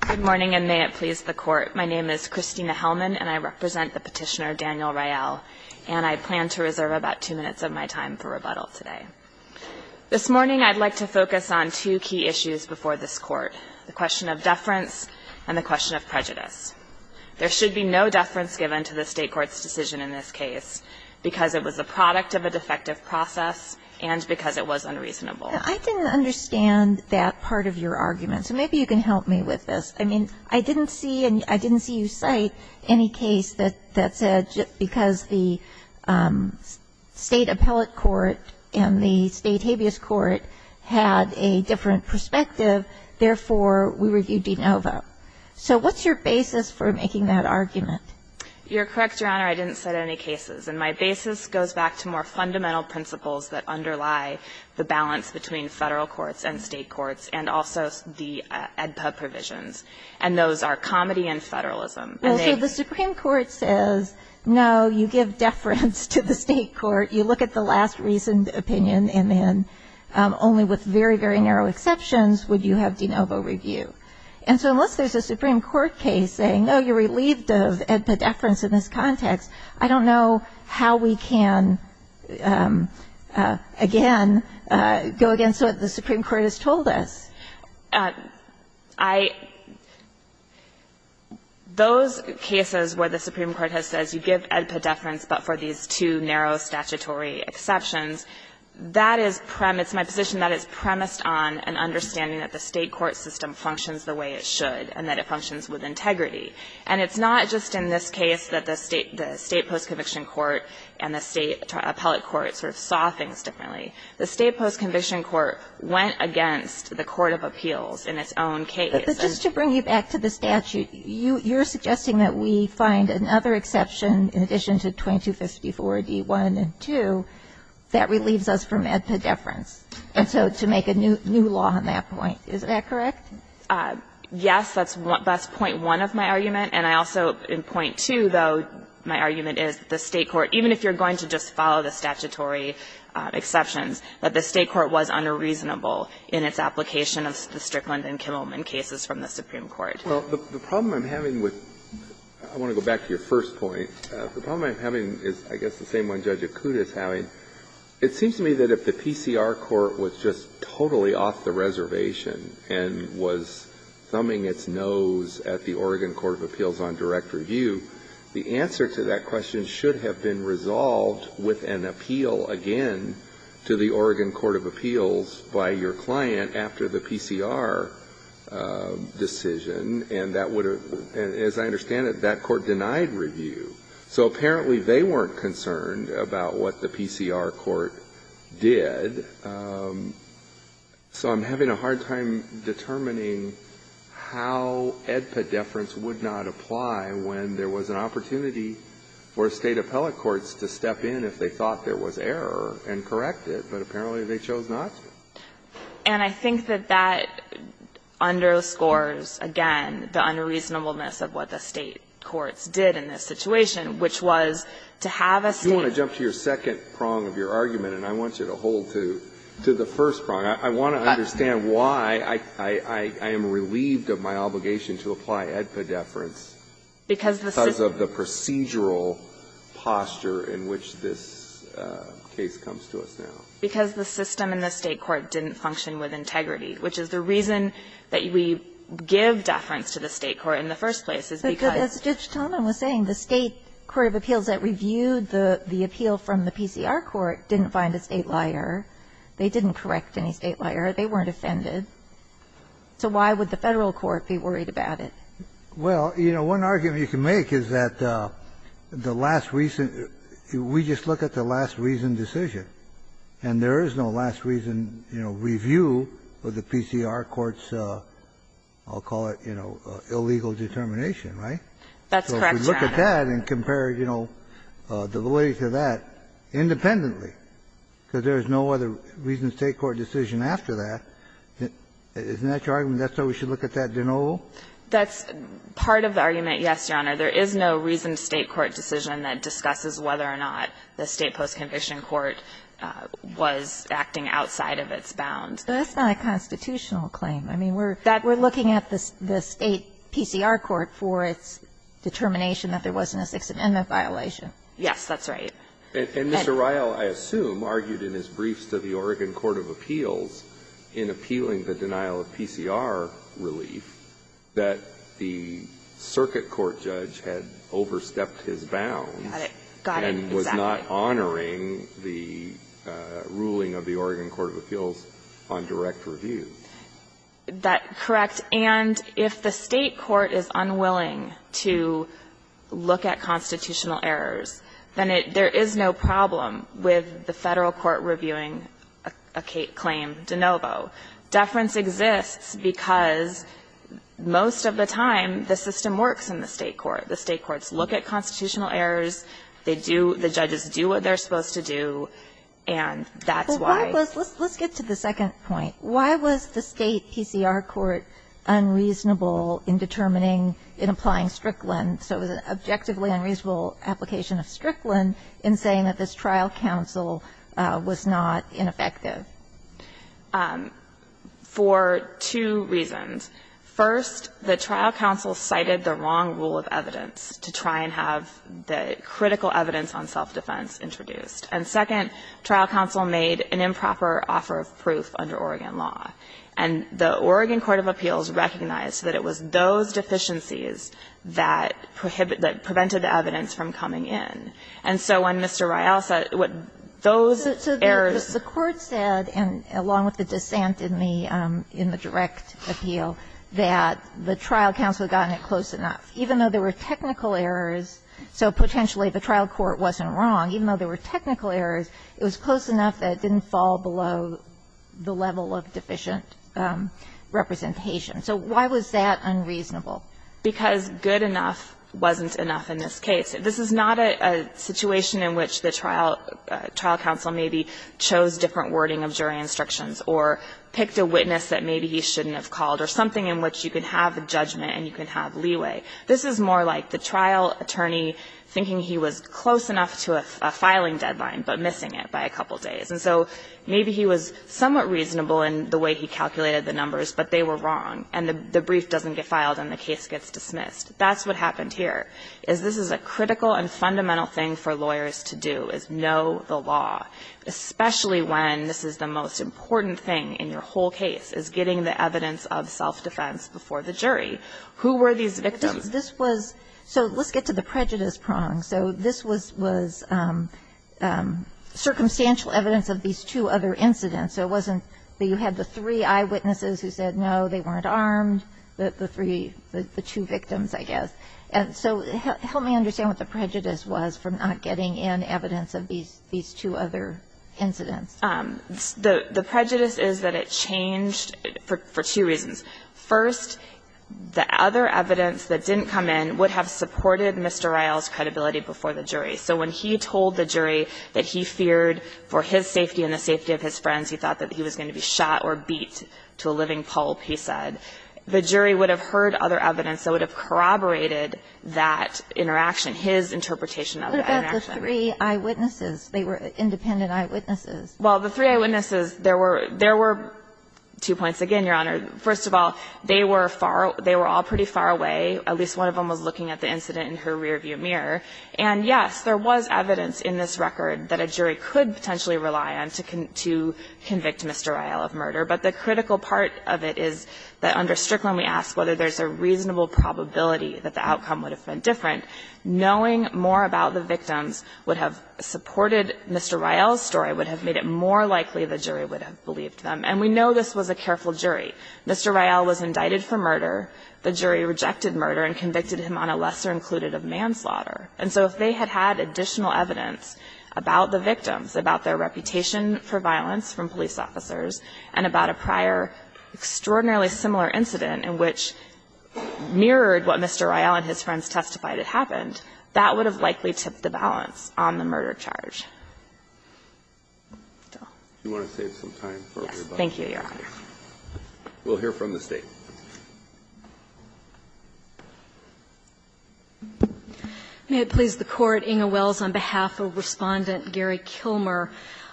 Good morning, and may it please the Court. My name is Christina Hellman, and I represent the petitioner Daniel Ryel, and I plan to reserve about two minutes of my time for rebuttal today. This morning I'd like to focus on two key issues before this Court, the question of deference and the question of prejudice. There should be no deference given to the State Court's decision in this case because it was the product of a defective process and because it was unreasonable. And I didn't understand that part of your argument, so maybe you can help me with this. I mean, I didn't see and I didn't see you cite any case that said just because the State Appellate Court and the State Habeas Court had a different perspective, therefore, we review de novo. So what's your basis for making that argument? You're correct, Your Honor, I didn't cite any cases. And my basis goes back to more fundamental principles that underlie the balance between federal courts and state courts and also the AEDPA provisions, and those are comedy and federalism. Well, so the Supreme Court says, no, you give deference to the State Court. You look at the last reasoned opinion and then only with very, very narrow exceptions would you have de novo review. And so unless there's a Supreme Court case saying, oh, you're relieved of AEDPA deference in this context, I don't know how we can, again, go against what the Supreme Court has told us. I — those cases where the Supreme Court has said, you give AEDPA deference but for these two narrow statutory exceptions, that is premise — it's my position that it's premised on an understanding that the State court system functions the way it should and that it functions with integrity. And it's not just in this case that the State post-conviction court and the State appellate court sort of saw things differently. The State post-conviction court went against the court of appeals in its own case. But just to bring you back to the statute, you're suggesting that we find another exception in addition to 2254d1 and 2 that relieves us from AEDPA deference, and so to make a new law on that point. Is that correct? Yes. That's point one of my argument. And I also, in point two, though, my argument is that the State court, even if you're going to just follow the statutory exceptions, that the State court was unreasonable in its application of the Strickland and Kimmelman cases from the Supreme Court. Well, the problem I'm having with — I want to go back to your first point. The problem I'm having is, I guess, the same one Judge Akuta is having. It seems to me that if the PCR court was just totally off the reservation and was thumbing its nose at the Oregon court of appeals on direct review, the answer to that question should have been resolved with an appeal again to the Oregon court of appeals by your client after the PCR decision, and that would have — as I understand it, that court denied review. So apparently they weren't concerned about what the PCR court did, so I'm having a hard time determining how AEDPA deference would not apply when there was an opportunity for State appellate courts to step in if they thought there was error and correct it, but apparently they chose not to. And I think that that underscores, again, the unreasonableness of what the State courts did in this situation, which was to have a State — You want to jump to your second prong of your argument, and I want you to hold to the first prong. I want to understand why I am relieved of my obligation to apply AEDPA deference because of the procedural posture in which this case comes to us now. Because the system in the State court didn't function with integrity, which is the state court of appeals that reviewed the appeal from the PCR court didn't find a State liar. They didn't correct any State liar. They weren't offended. So why would the Federal court be worried about it? Well, you know, one argument you can make is that the last reason — we just look at the last reason decision, and there is no last reason, you know, review of the PCR court's, I'll call it, you know, illegal determination, right? That's correct, Your Honor. So if we look at that and compare, you know, the validity of that independently, because there is no other reasoned State court decision after that, isn't that your argument, that's why we should look at that de novo? That's part of the argument, yes, Your Honor. There is no reasoned State court decision that discusses whether or not the State post-conviction court was acting outside of its bounds. That's not a constitutional claim. I mean, we're looking at the State PCR court for its determination that there wasn't a Sixth Amendment violation. Yes, that's right. And Mr. Ryle, I assume, argued in his briefs to the Oregon court of appeals in appealing the denial of PCR relief that the circuit court judge had overstepped his bounds. Got it. Got it, exactly. And was not honoring the ruling of the Oregon court of appeals on direct review. That's correct. And if the State court is unwilling to look at constitutional errors, then it – there is no problem with the Federal court reviewing a claim de novo. Deference exists because most of the time the system works in the State court. The State courts look at constitutional errors. They do – the judges do what they're supposed to do, and that's why. Well, why was – let's get to the second point. Why was the State PCR court unreasonable in determining – in applying Strickland – so it was an objectively unreasonable application of Strickland in saying that this trial counsel was not ineffective? For two reasons. First, the trial counsel cited the wrong rule of evidence to try and have the critical evidence on self-defense introduced. And second, trial counsel made an improper offer of proof under Oregon law. And the Oregon court of appeals recognized that it was those deficiencies that prohibited – that prevented evidence from coming in. And so when Mr. Rial said – what those errors – So the court said, and along with the dissent in the direct appeal, that the trial counsel had gotten it close enough. Even though there were technical errors, so potentially the trial court wasn't wrong, even though there were technical errors, it was close enough that it didn't fall below the level of deficient representation. So why was that unreasonable? Because good enough wasn't enough in this case. This is not a situation in which the trial counsel maybe chose different wording of jury instructions or picked a witness that maybe he shouldn't have called or something in which you can have a judgment and you can have leeway. This is more like the trial attorney thinking he was close enough to a filing deadline, but missing it by a couple days. And so maybe he was somewhat reasonable in the way he calculated the numbers, but they were wrong. And the brief doesn't get filed and the case gets dismissed. That's what happened here, is this is a critical and fundamental thing for lawyers to do, is know the law, especially when this is the most important thing in your whole case, is getting the evidence of self-defense before the jury. Who were these victims? This was so let's get to the prejudice prong. So this was circumstantial evidence of these two other incidents. So it wasn't that you had the three eyewitnesses who said no, they weren't armed, the three, the two victims, I guess. So help me understand what the prejudice was for not getting in evidence of these two other incidents. The prejudice is that it changed for two reasons. First, the other evidence that didn't come in would have supported Mr. Ryle's credibility before the jury. So when he told the jury that he feared for his safety and the safety of his friends, he thought that he was going to be shot or beat to a living pulp, he said. The jury would have heard other evidence that would have corroborated that interaction, his interpretation of that interaction. What about the three eyewitnesses? They were independent eyewitnesses. Well, the three eyewitnesses, there were two points. Again, Your Honor, first of all, they were all pretty far away. At least one of them was looking at the incident in her rearview mirror. And, yes, there was evidence in this record that a jury could potentially rely on to convict Mr. Ryle of murder. But the critical part of it is that under Strickland we ask whether there's a reasonable probability that the outcome would have been different. Knowing more about the victims would have supported Mr. Ryle's story, would have made it more likely the jury would have believed them. And we know this was a careful jury. Mr. Ryle was indicted for murder. The jury rejected murder and convicted him on a lesser included of manslaughter. And so if they had had additional evidence about the victims, about their reputation for violence from police officers, and about a prior extraordinarily similar incident in which mirrored what Mr. Ryle and his friends testified had happened, that would have likely tipped the balance on the murder charge. Do you want to save some time for everybody? Yes. Thank you, Your Honor. We'll hear from the State. May it please the Court. Inga Wells on behalf of Respondent Gary Kilmer.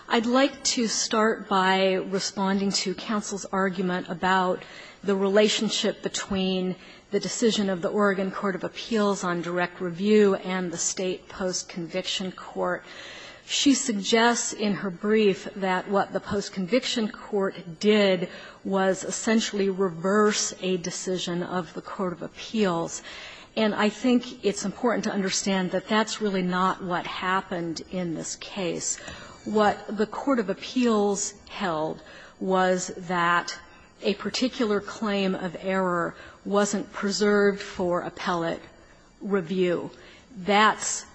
I'd like to start by responding to counsel's argument about the relationship between the decision of the Oregon Court of Appeals on direct review and the State Post-Conviction Court. She suggests in her brief that what the Post-Conviction Court did was essentially reverse a decision of the Court of Appeals. And I think it's important to understand that that's really not what happened in this case. What the Court of Appeals held was that a particular claim of error wasn't preserved for appellate review. That's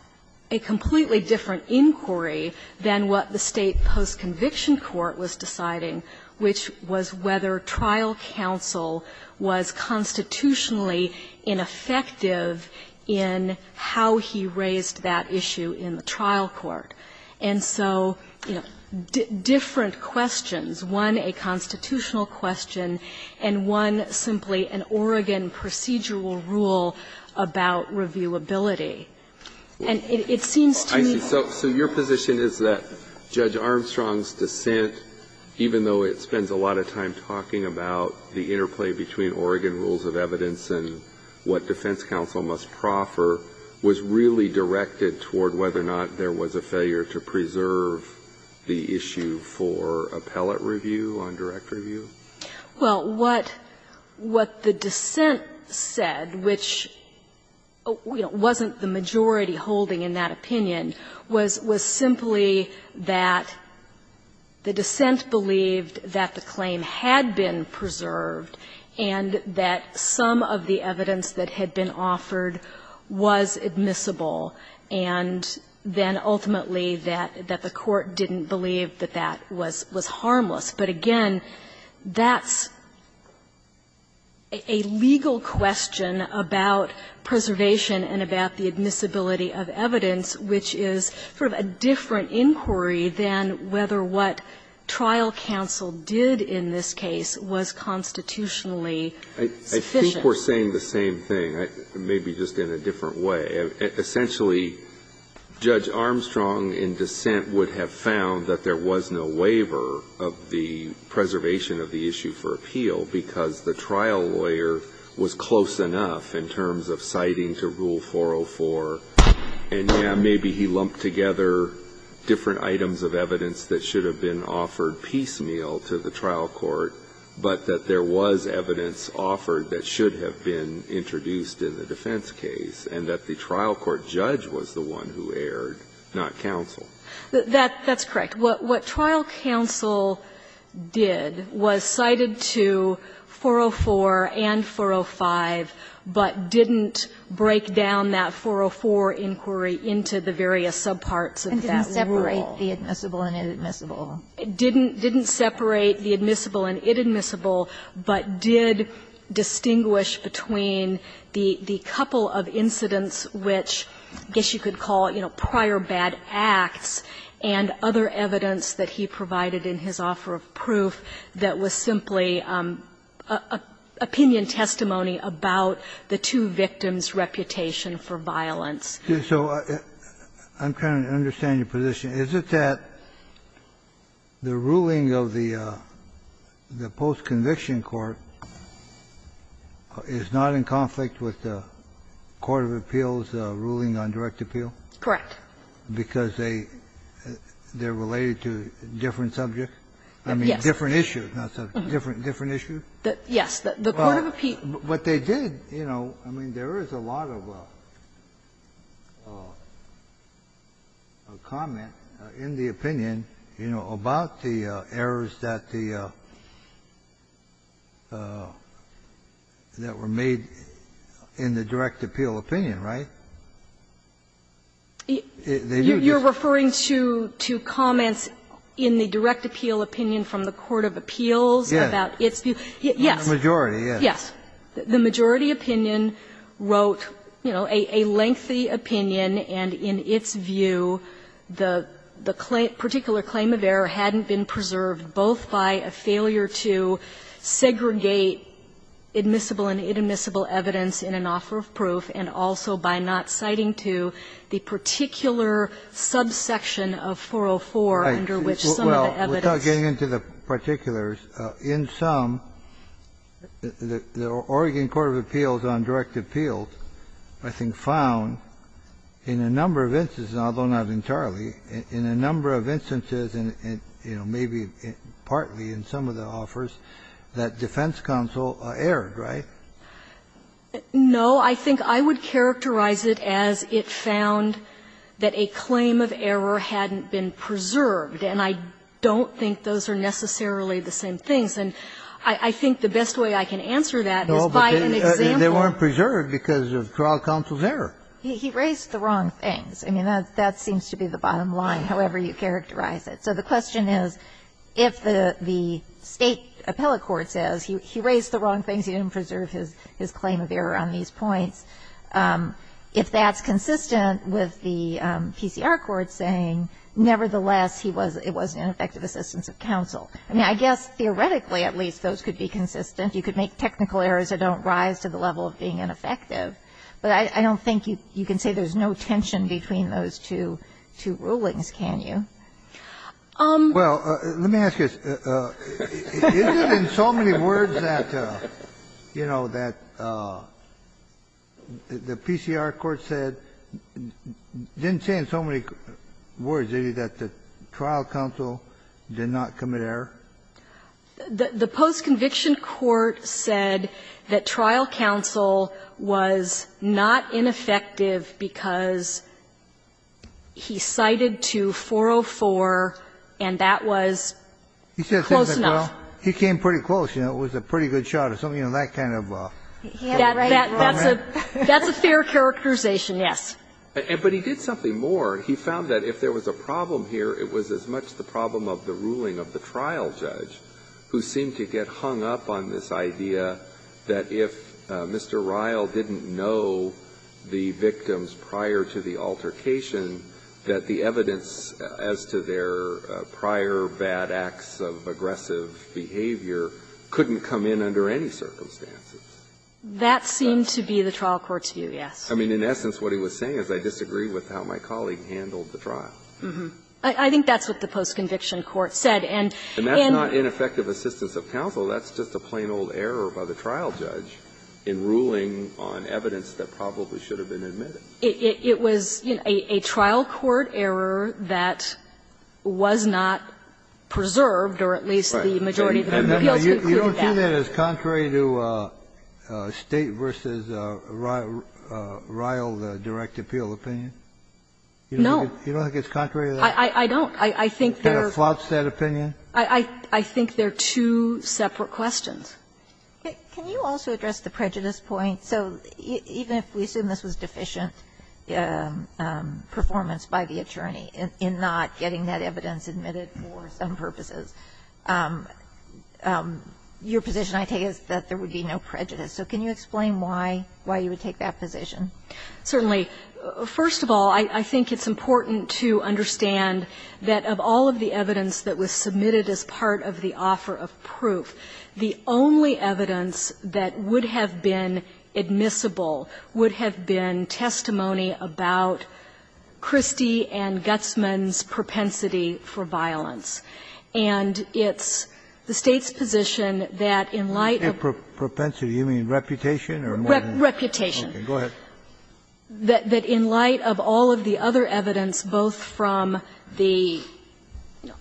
a completely different inquiry than what the State Post-Conviction Court was deciding, which was whether trial counsel was constitutionally ineffective in how he raised that issue in the trial court. And so, you know, different questions, one a constitutional question and one simply an Oregon procedural rule about reviewability. And it seems to me that the State Post-Conviction Court is not doing that. I see. So your position is that Judge Armstrong's dissent, even though it spends a lot of time talking about the interplay between Oregon rules of evidence and what defense counsel must proffer, was really directed toward whether or not there was a failure to preserve the issue for appellate review on direct review? Well, what the dissent said, which, you know, wasn't the majority holding in that opinion, was simply that the dissent believed that the claim had been preserved and that some of the evidence that had been offered was admissible, and then ultimately that the court didn't believe that that was harmless. But again, that's a legal question about preservation and about the admissibility of evidence, which is sort of a different inquiry than whether what trial counsel did in this case was constitutionally sufficient. I think we're saying the same thing, maybe just in a different way. Essentially, Judge Armstrong, in dissent, would have found that there was no waiver of the preservation of the issue for appeal because the trial lawyer was close enough in terms of citing to Rule 404, and yeah, maybe he lumped together different items of evidence that should have been offered piecemeal to the trial court, but that there was evidence offered that should have been introduced in the defense case, and that the trial court judge was the one who erred, not counsel. That's correct. What trial counsel did was cited to 404 and 405, but didn't break down that 404 inquiry into the various subparts of that rule. And didn't separate the admissible and inadmissible. Didn't separate the admissible and inadmissible, but did distinguish between the couple of incidents which, I guess you could call it, you know, prior bad acts and other evidence that he provided in his offer of proof that was simply opinion testimony about the two victims' reputation for violence. So I'm trying to understand your position. Is it that the ruling of the post-conviction court is not in conflict with the post-conviction court of appeals ruling on direct appeal? Correct. Because they're related to different subjects? Yes. I mean, different issues, not subjects. Different issues? Yes. The court of appeals. But they did, you know, I mean, there is a lot of comment in the opinion, you know, about the errors that the, that were made in the direct appeal opinion, right? You're referring to comments in the direct appeal opinion from the court of appeals about its view? Yes. The majority, yes. Yes. The majority opinion wrote, you know, a lengthy opinion, and in its view, the particular claim of error hadn't been preserved, both by a failure to segregate admissible and inadmissible evidence in an offer of proof, and also by not citing to the particular subsection of 404 under which some of the evidence. Well, without getting into the particulars, in sum, the Oregon court of appeals on direct appeals, I think, found in a number of instances, although not entirely, in a number of instances, and, you know, maybe partly in some of the offers, that defense counsel erred, right? No. I think I would characterize it as it found that a claim of error hadn't been preserved, and I don't think those are necessarily the same things. And I think the best way I can answer that is by an example. No, but they weren't preserved because of trial counsel's error. He raised the wrong things. I mean, that seems to be the bottom line, however you characterize it. So the question is, if the State appellate court says he raised the wrong things, he didn't preserve his claim of error on these points, if that's consistent with the PCR court saying, nevertheless, it was ineffective assistance of counsel. I mean, I guess theoretically, at least, those could be consistent. You could make technical errors that don't rise to the level of being ineffective, but I don't think you can say there's no tension between those two rulings, can you? Kennedy, let me ask you this. Is it in so many words that, you know, that the PCR court said, didn't say in so many words, did it, that the trial counsel did not commit error? The post-conviction court said that trial counsel was not ineffective because he cited to 404, and that was close enough. He came pretty close, you know. It was a pretty good shot or something, you know, that kind of a hit and run. That's a fair characterization, yes. But he did something more. He found that if there was a problem here, it was as much the problem of the ruling of the trial judge, who seemed to get hung up on this idea that if Mr. Ryle didn't know the victims prior to the altercation, that the evidence as to their prior bad acts of aggressive behavior couldn't come in under any circumstances. That seemed to be the trial court's view, yes. I mean, in essence, what he was saying is, I disagree with how my colleague handled the trial. I think that's what the post-conviction court said. And in the case of the trial judge, it was a trial court error that was not preserved, or at least the majority of the appeals concluded that. Kennedy, you don't see that as contrary to State v. Ryle, the direct appeal opinion? No. You don't think it's contrary to that? I don't. I think there are two separate questions. Can you also address the prejudice point? So even if we assume this was deficient performance by the attorney in not getting that evidence admitted for some purposes, your position I take is that there would be no prejudice. So can you explain why you would take that position? Certainly. First of all, I think it's important to understand that of all of the evidence that was submitted as part of the offer of proof, the only evidence that would have been admissible would have been testimony about Christie and Gutsman's propensity for violence. And it's the State's position that in light of the other evidence that was submitted that in light of all of the other evidence, both from the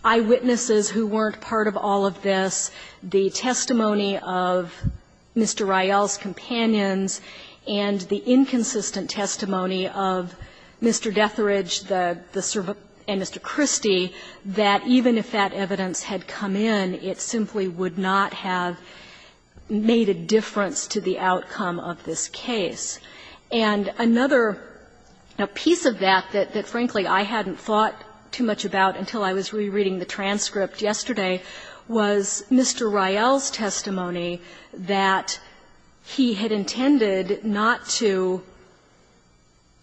eyewitnesses who weren't part of all of this, the testimony of Mr. Ryle's companions, and the inconsistent testimony of Mr. Detheridge and Mr. Christie, that even if that evidence had come in, it simply would not have made a difference to the outcome of this case. And another piece of that that, frankly, I hadn't thought too much about until I was rereading the transcript yesterday was Mr. Ryle's testimony that he had intended not to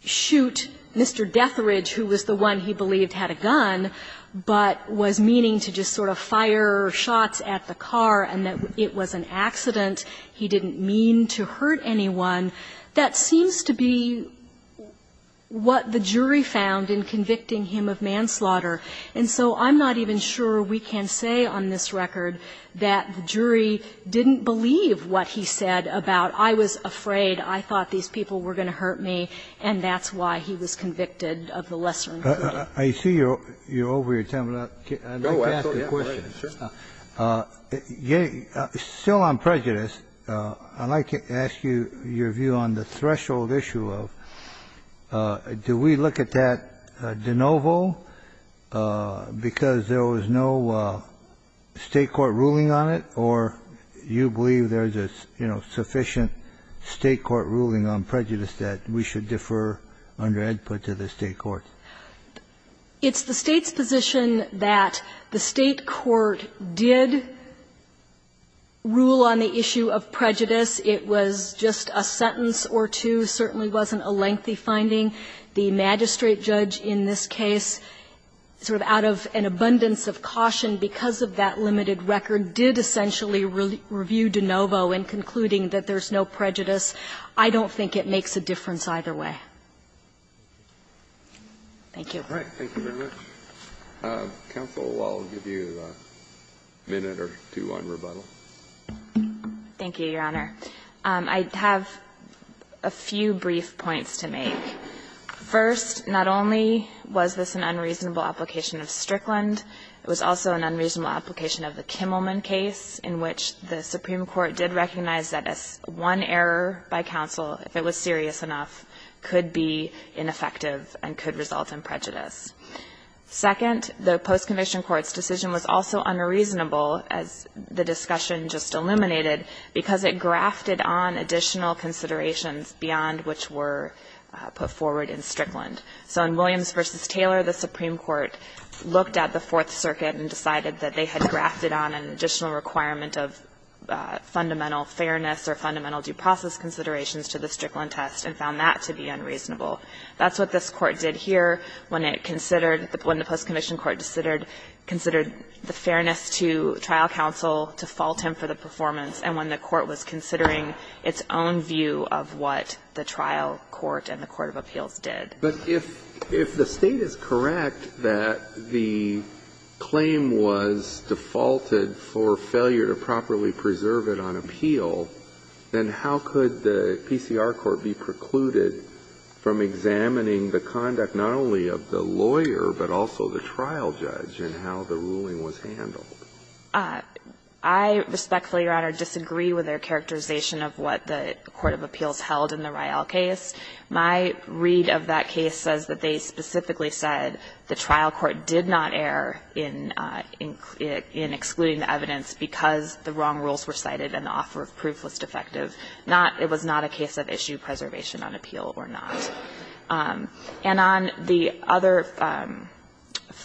shoot Mr. Detheridge, who was the one he believed had a gun, but was meaning to just sort of fire shots at the car and that it was an accident. He didn't mean to hurt anyone. That seems to be what the jury found in convicting him of manslaughter. And so I'm not even sure we can say on this record that the jury didn't believe what he said about, I was afraid, I thought these people were going to hurt me, and that's why he was convicted of the lesser crime. Kennedy. I see you're over your time. I'd like to ask a question. I'm going to ask you on the threshold issue of, do we look at that de novo because there was no State court ruling on it, or you believe there's a, you know, sufficient State court ruling on prejudice that we should defer under EDPUT to the State court? It's the State's position that the State court did rule on the issue of prejudice. It was just a sentence or two, certainly wasn't a lengthy finding. The magistrate judge in this case, sort of out of an abundance of caution because of that limited record, did essentially review de novo in concluding that there's no prejudice. I don't think it makes a difference either way. Thank you. Thank you very much. Counsel, I'll give you a minute or two on rebuttal. Thank you, Your Honor. I have a few brief points to make. First, not only was this an unreasonable application of Strickland, it was also an unreasonable application of the Kimmelman case in which the Supreme Court did recognize that one error by counsel, if it was serious enough, could be ineffective and could result in prejudice. Second, the post-conviction court's decision was also unreasonable, as the discussion just illuminated, because it grafted on additional considerations beyond which were put forward in Strickland. So in Williams v. Taylor, the Supreme Court looked at the Fourth Circuit and decided that they had grafted on an additional requirement of fundamental fairness or fundamental due process considerations to the Strickland test and found that to be unreasonable. That's what this court did here when it considered, when the post-conviction court considered the fairness to trial counsel to fault him for the performance and when the court was considering its own view of what the trial court and the court of appeals did. But if the State is correct that the claim was defaulted for failure to properly preserve it on appeal, then how could the PCR court be precluded from examining the conduct not only of the lawyer, but also the trial judge and how the ruling was handled? I respectfully, Your Honor, disagree with their characterization of what the court of appeals held in the Riel case. My read of that case says that they specifically said the trial court did not err in excluding the evidence because the wrong rules were cited and the offer of proof was defective. Not that it was not a case of issue preservation on appeal or not. And on the other,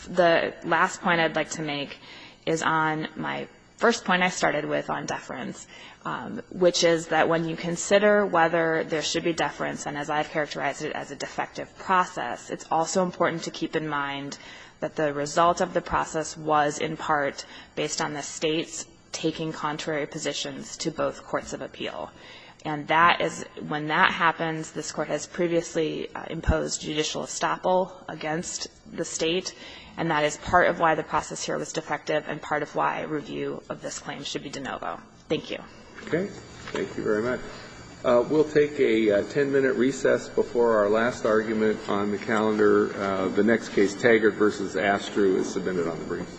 the last point I'd like to make is on my first point I started with on deference, which is that when you consider whether there should be deference and as I've characterized it as a defective process, it's also important to keep in mind that the result of the process was in part based on the State's taking contrary positions to both courts of appeal. And that is, when that happens, this Court has previously imposed judicial estoppel against the State, and that is part of why the process here was defective and part of why review of this claim should be de novo. Thank you. Okay. Thank you very much. We'll take a 10-minute recess before our last argument on the calendar. The next case, Taggart v. Astru, is submitted on the brief.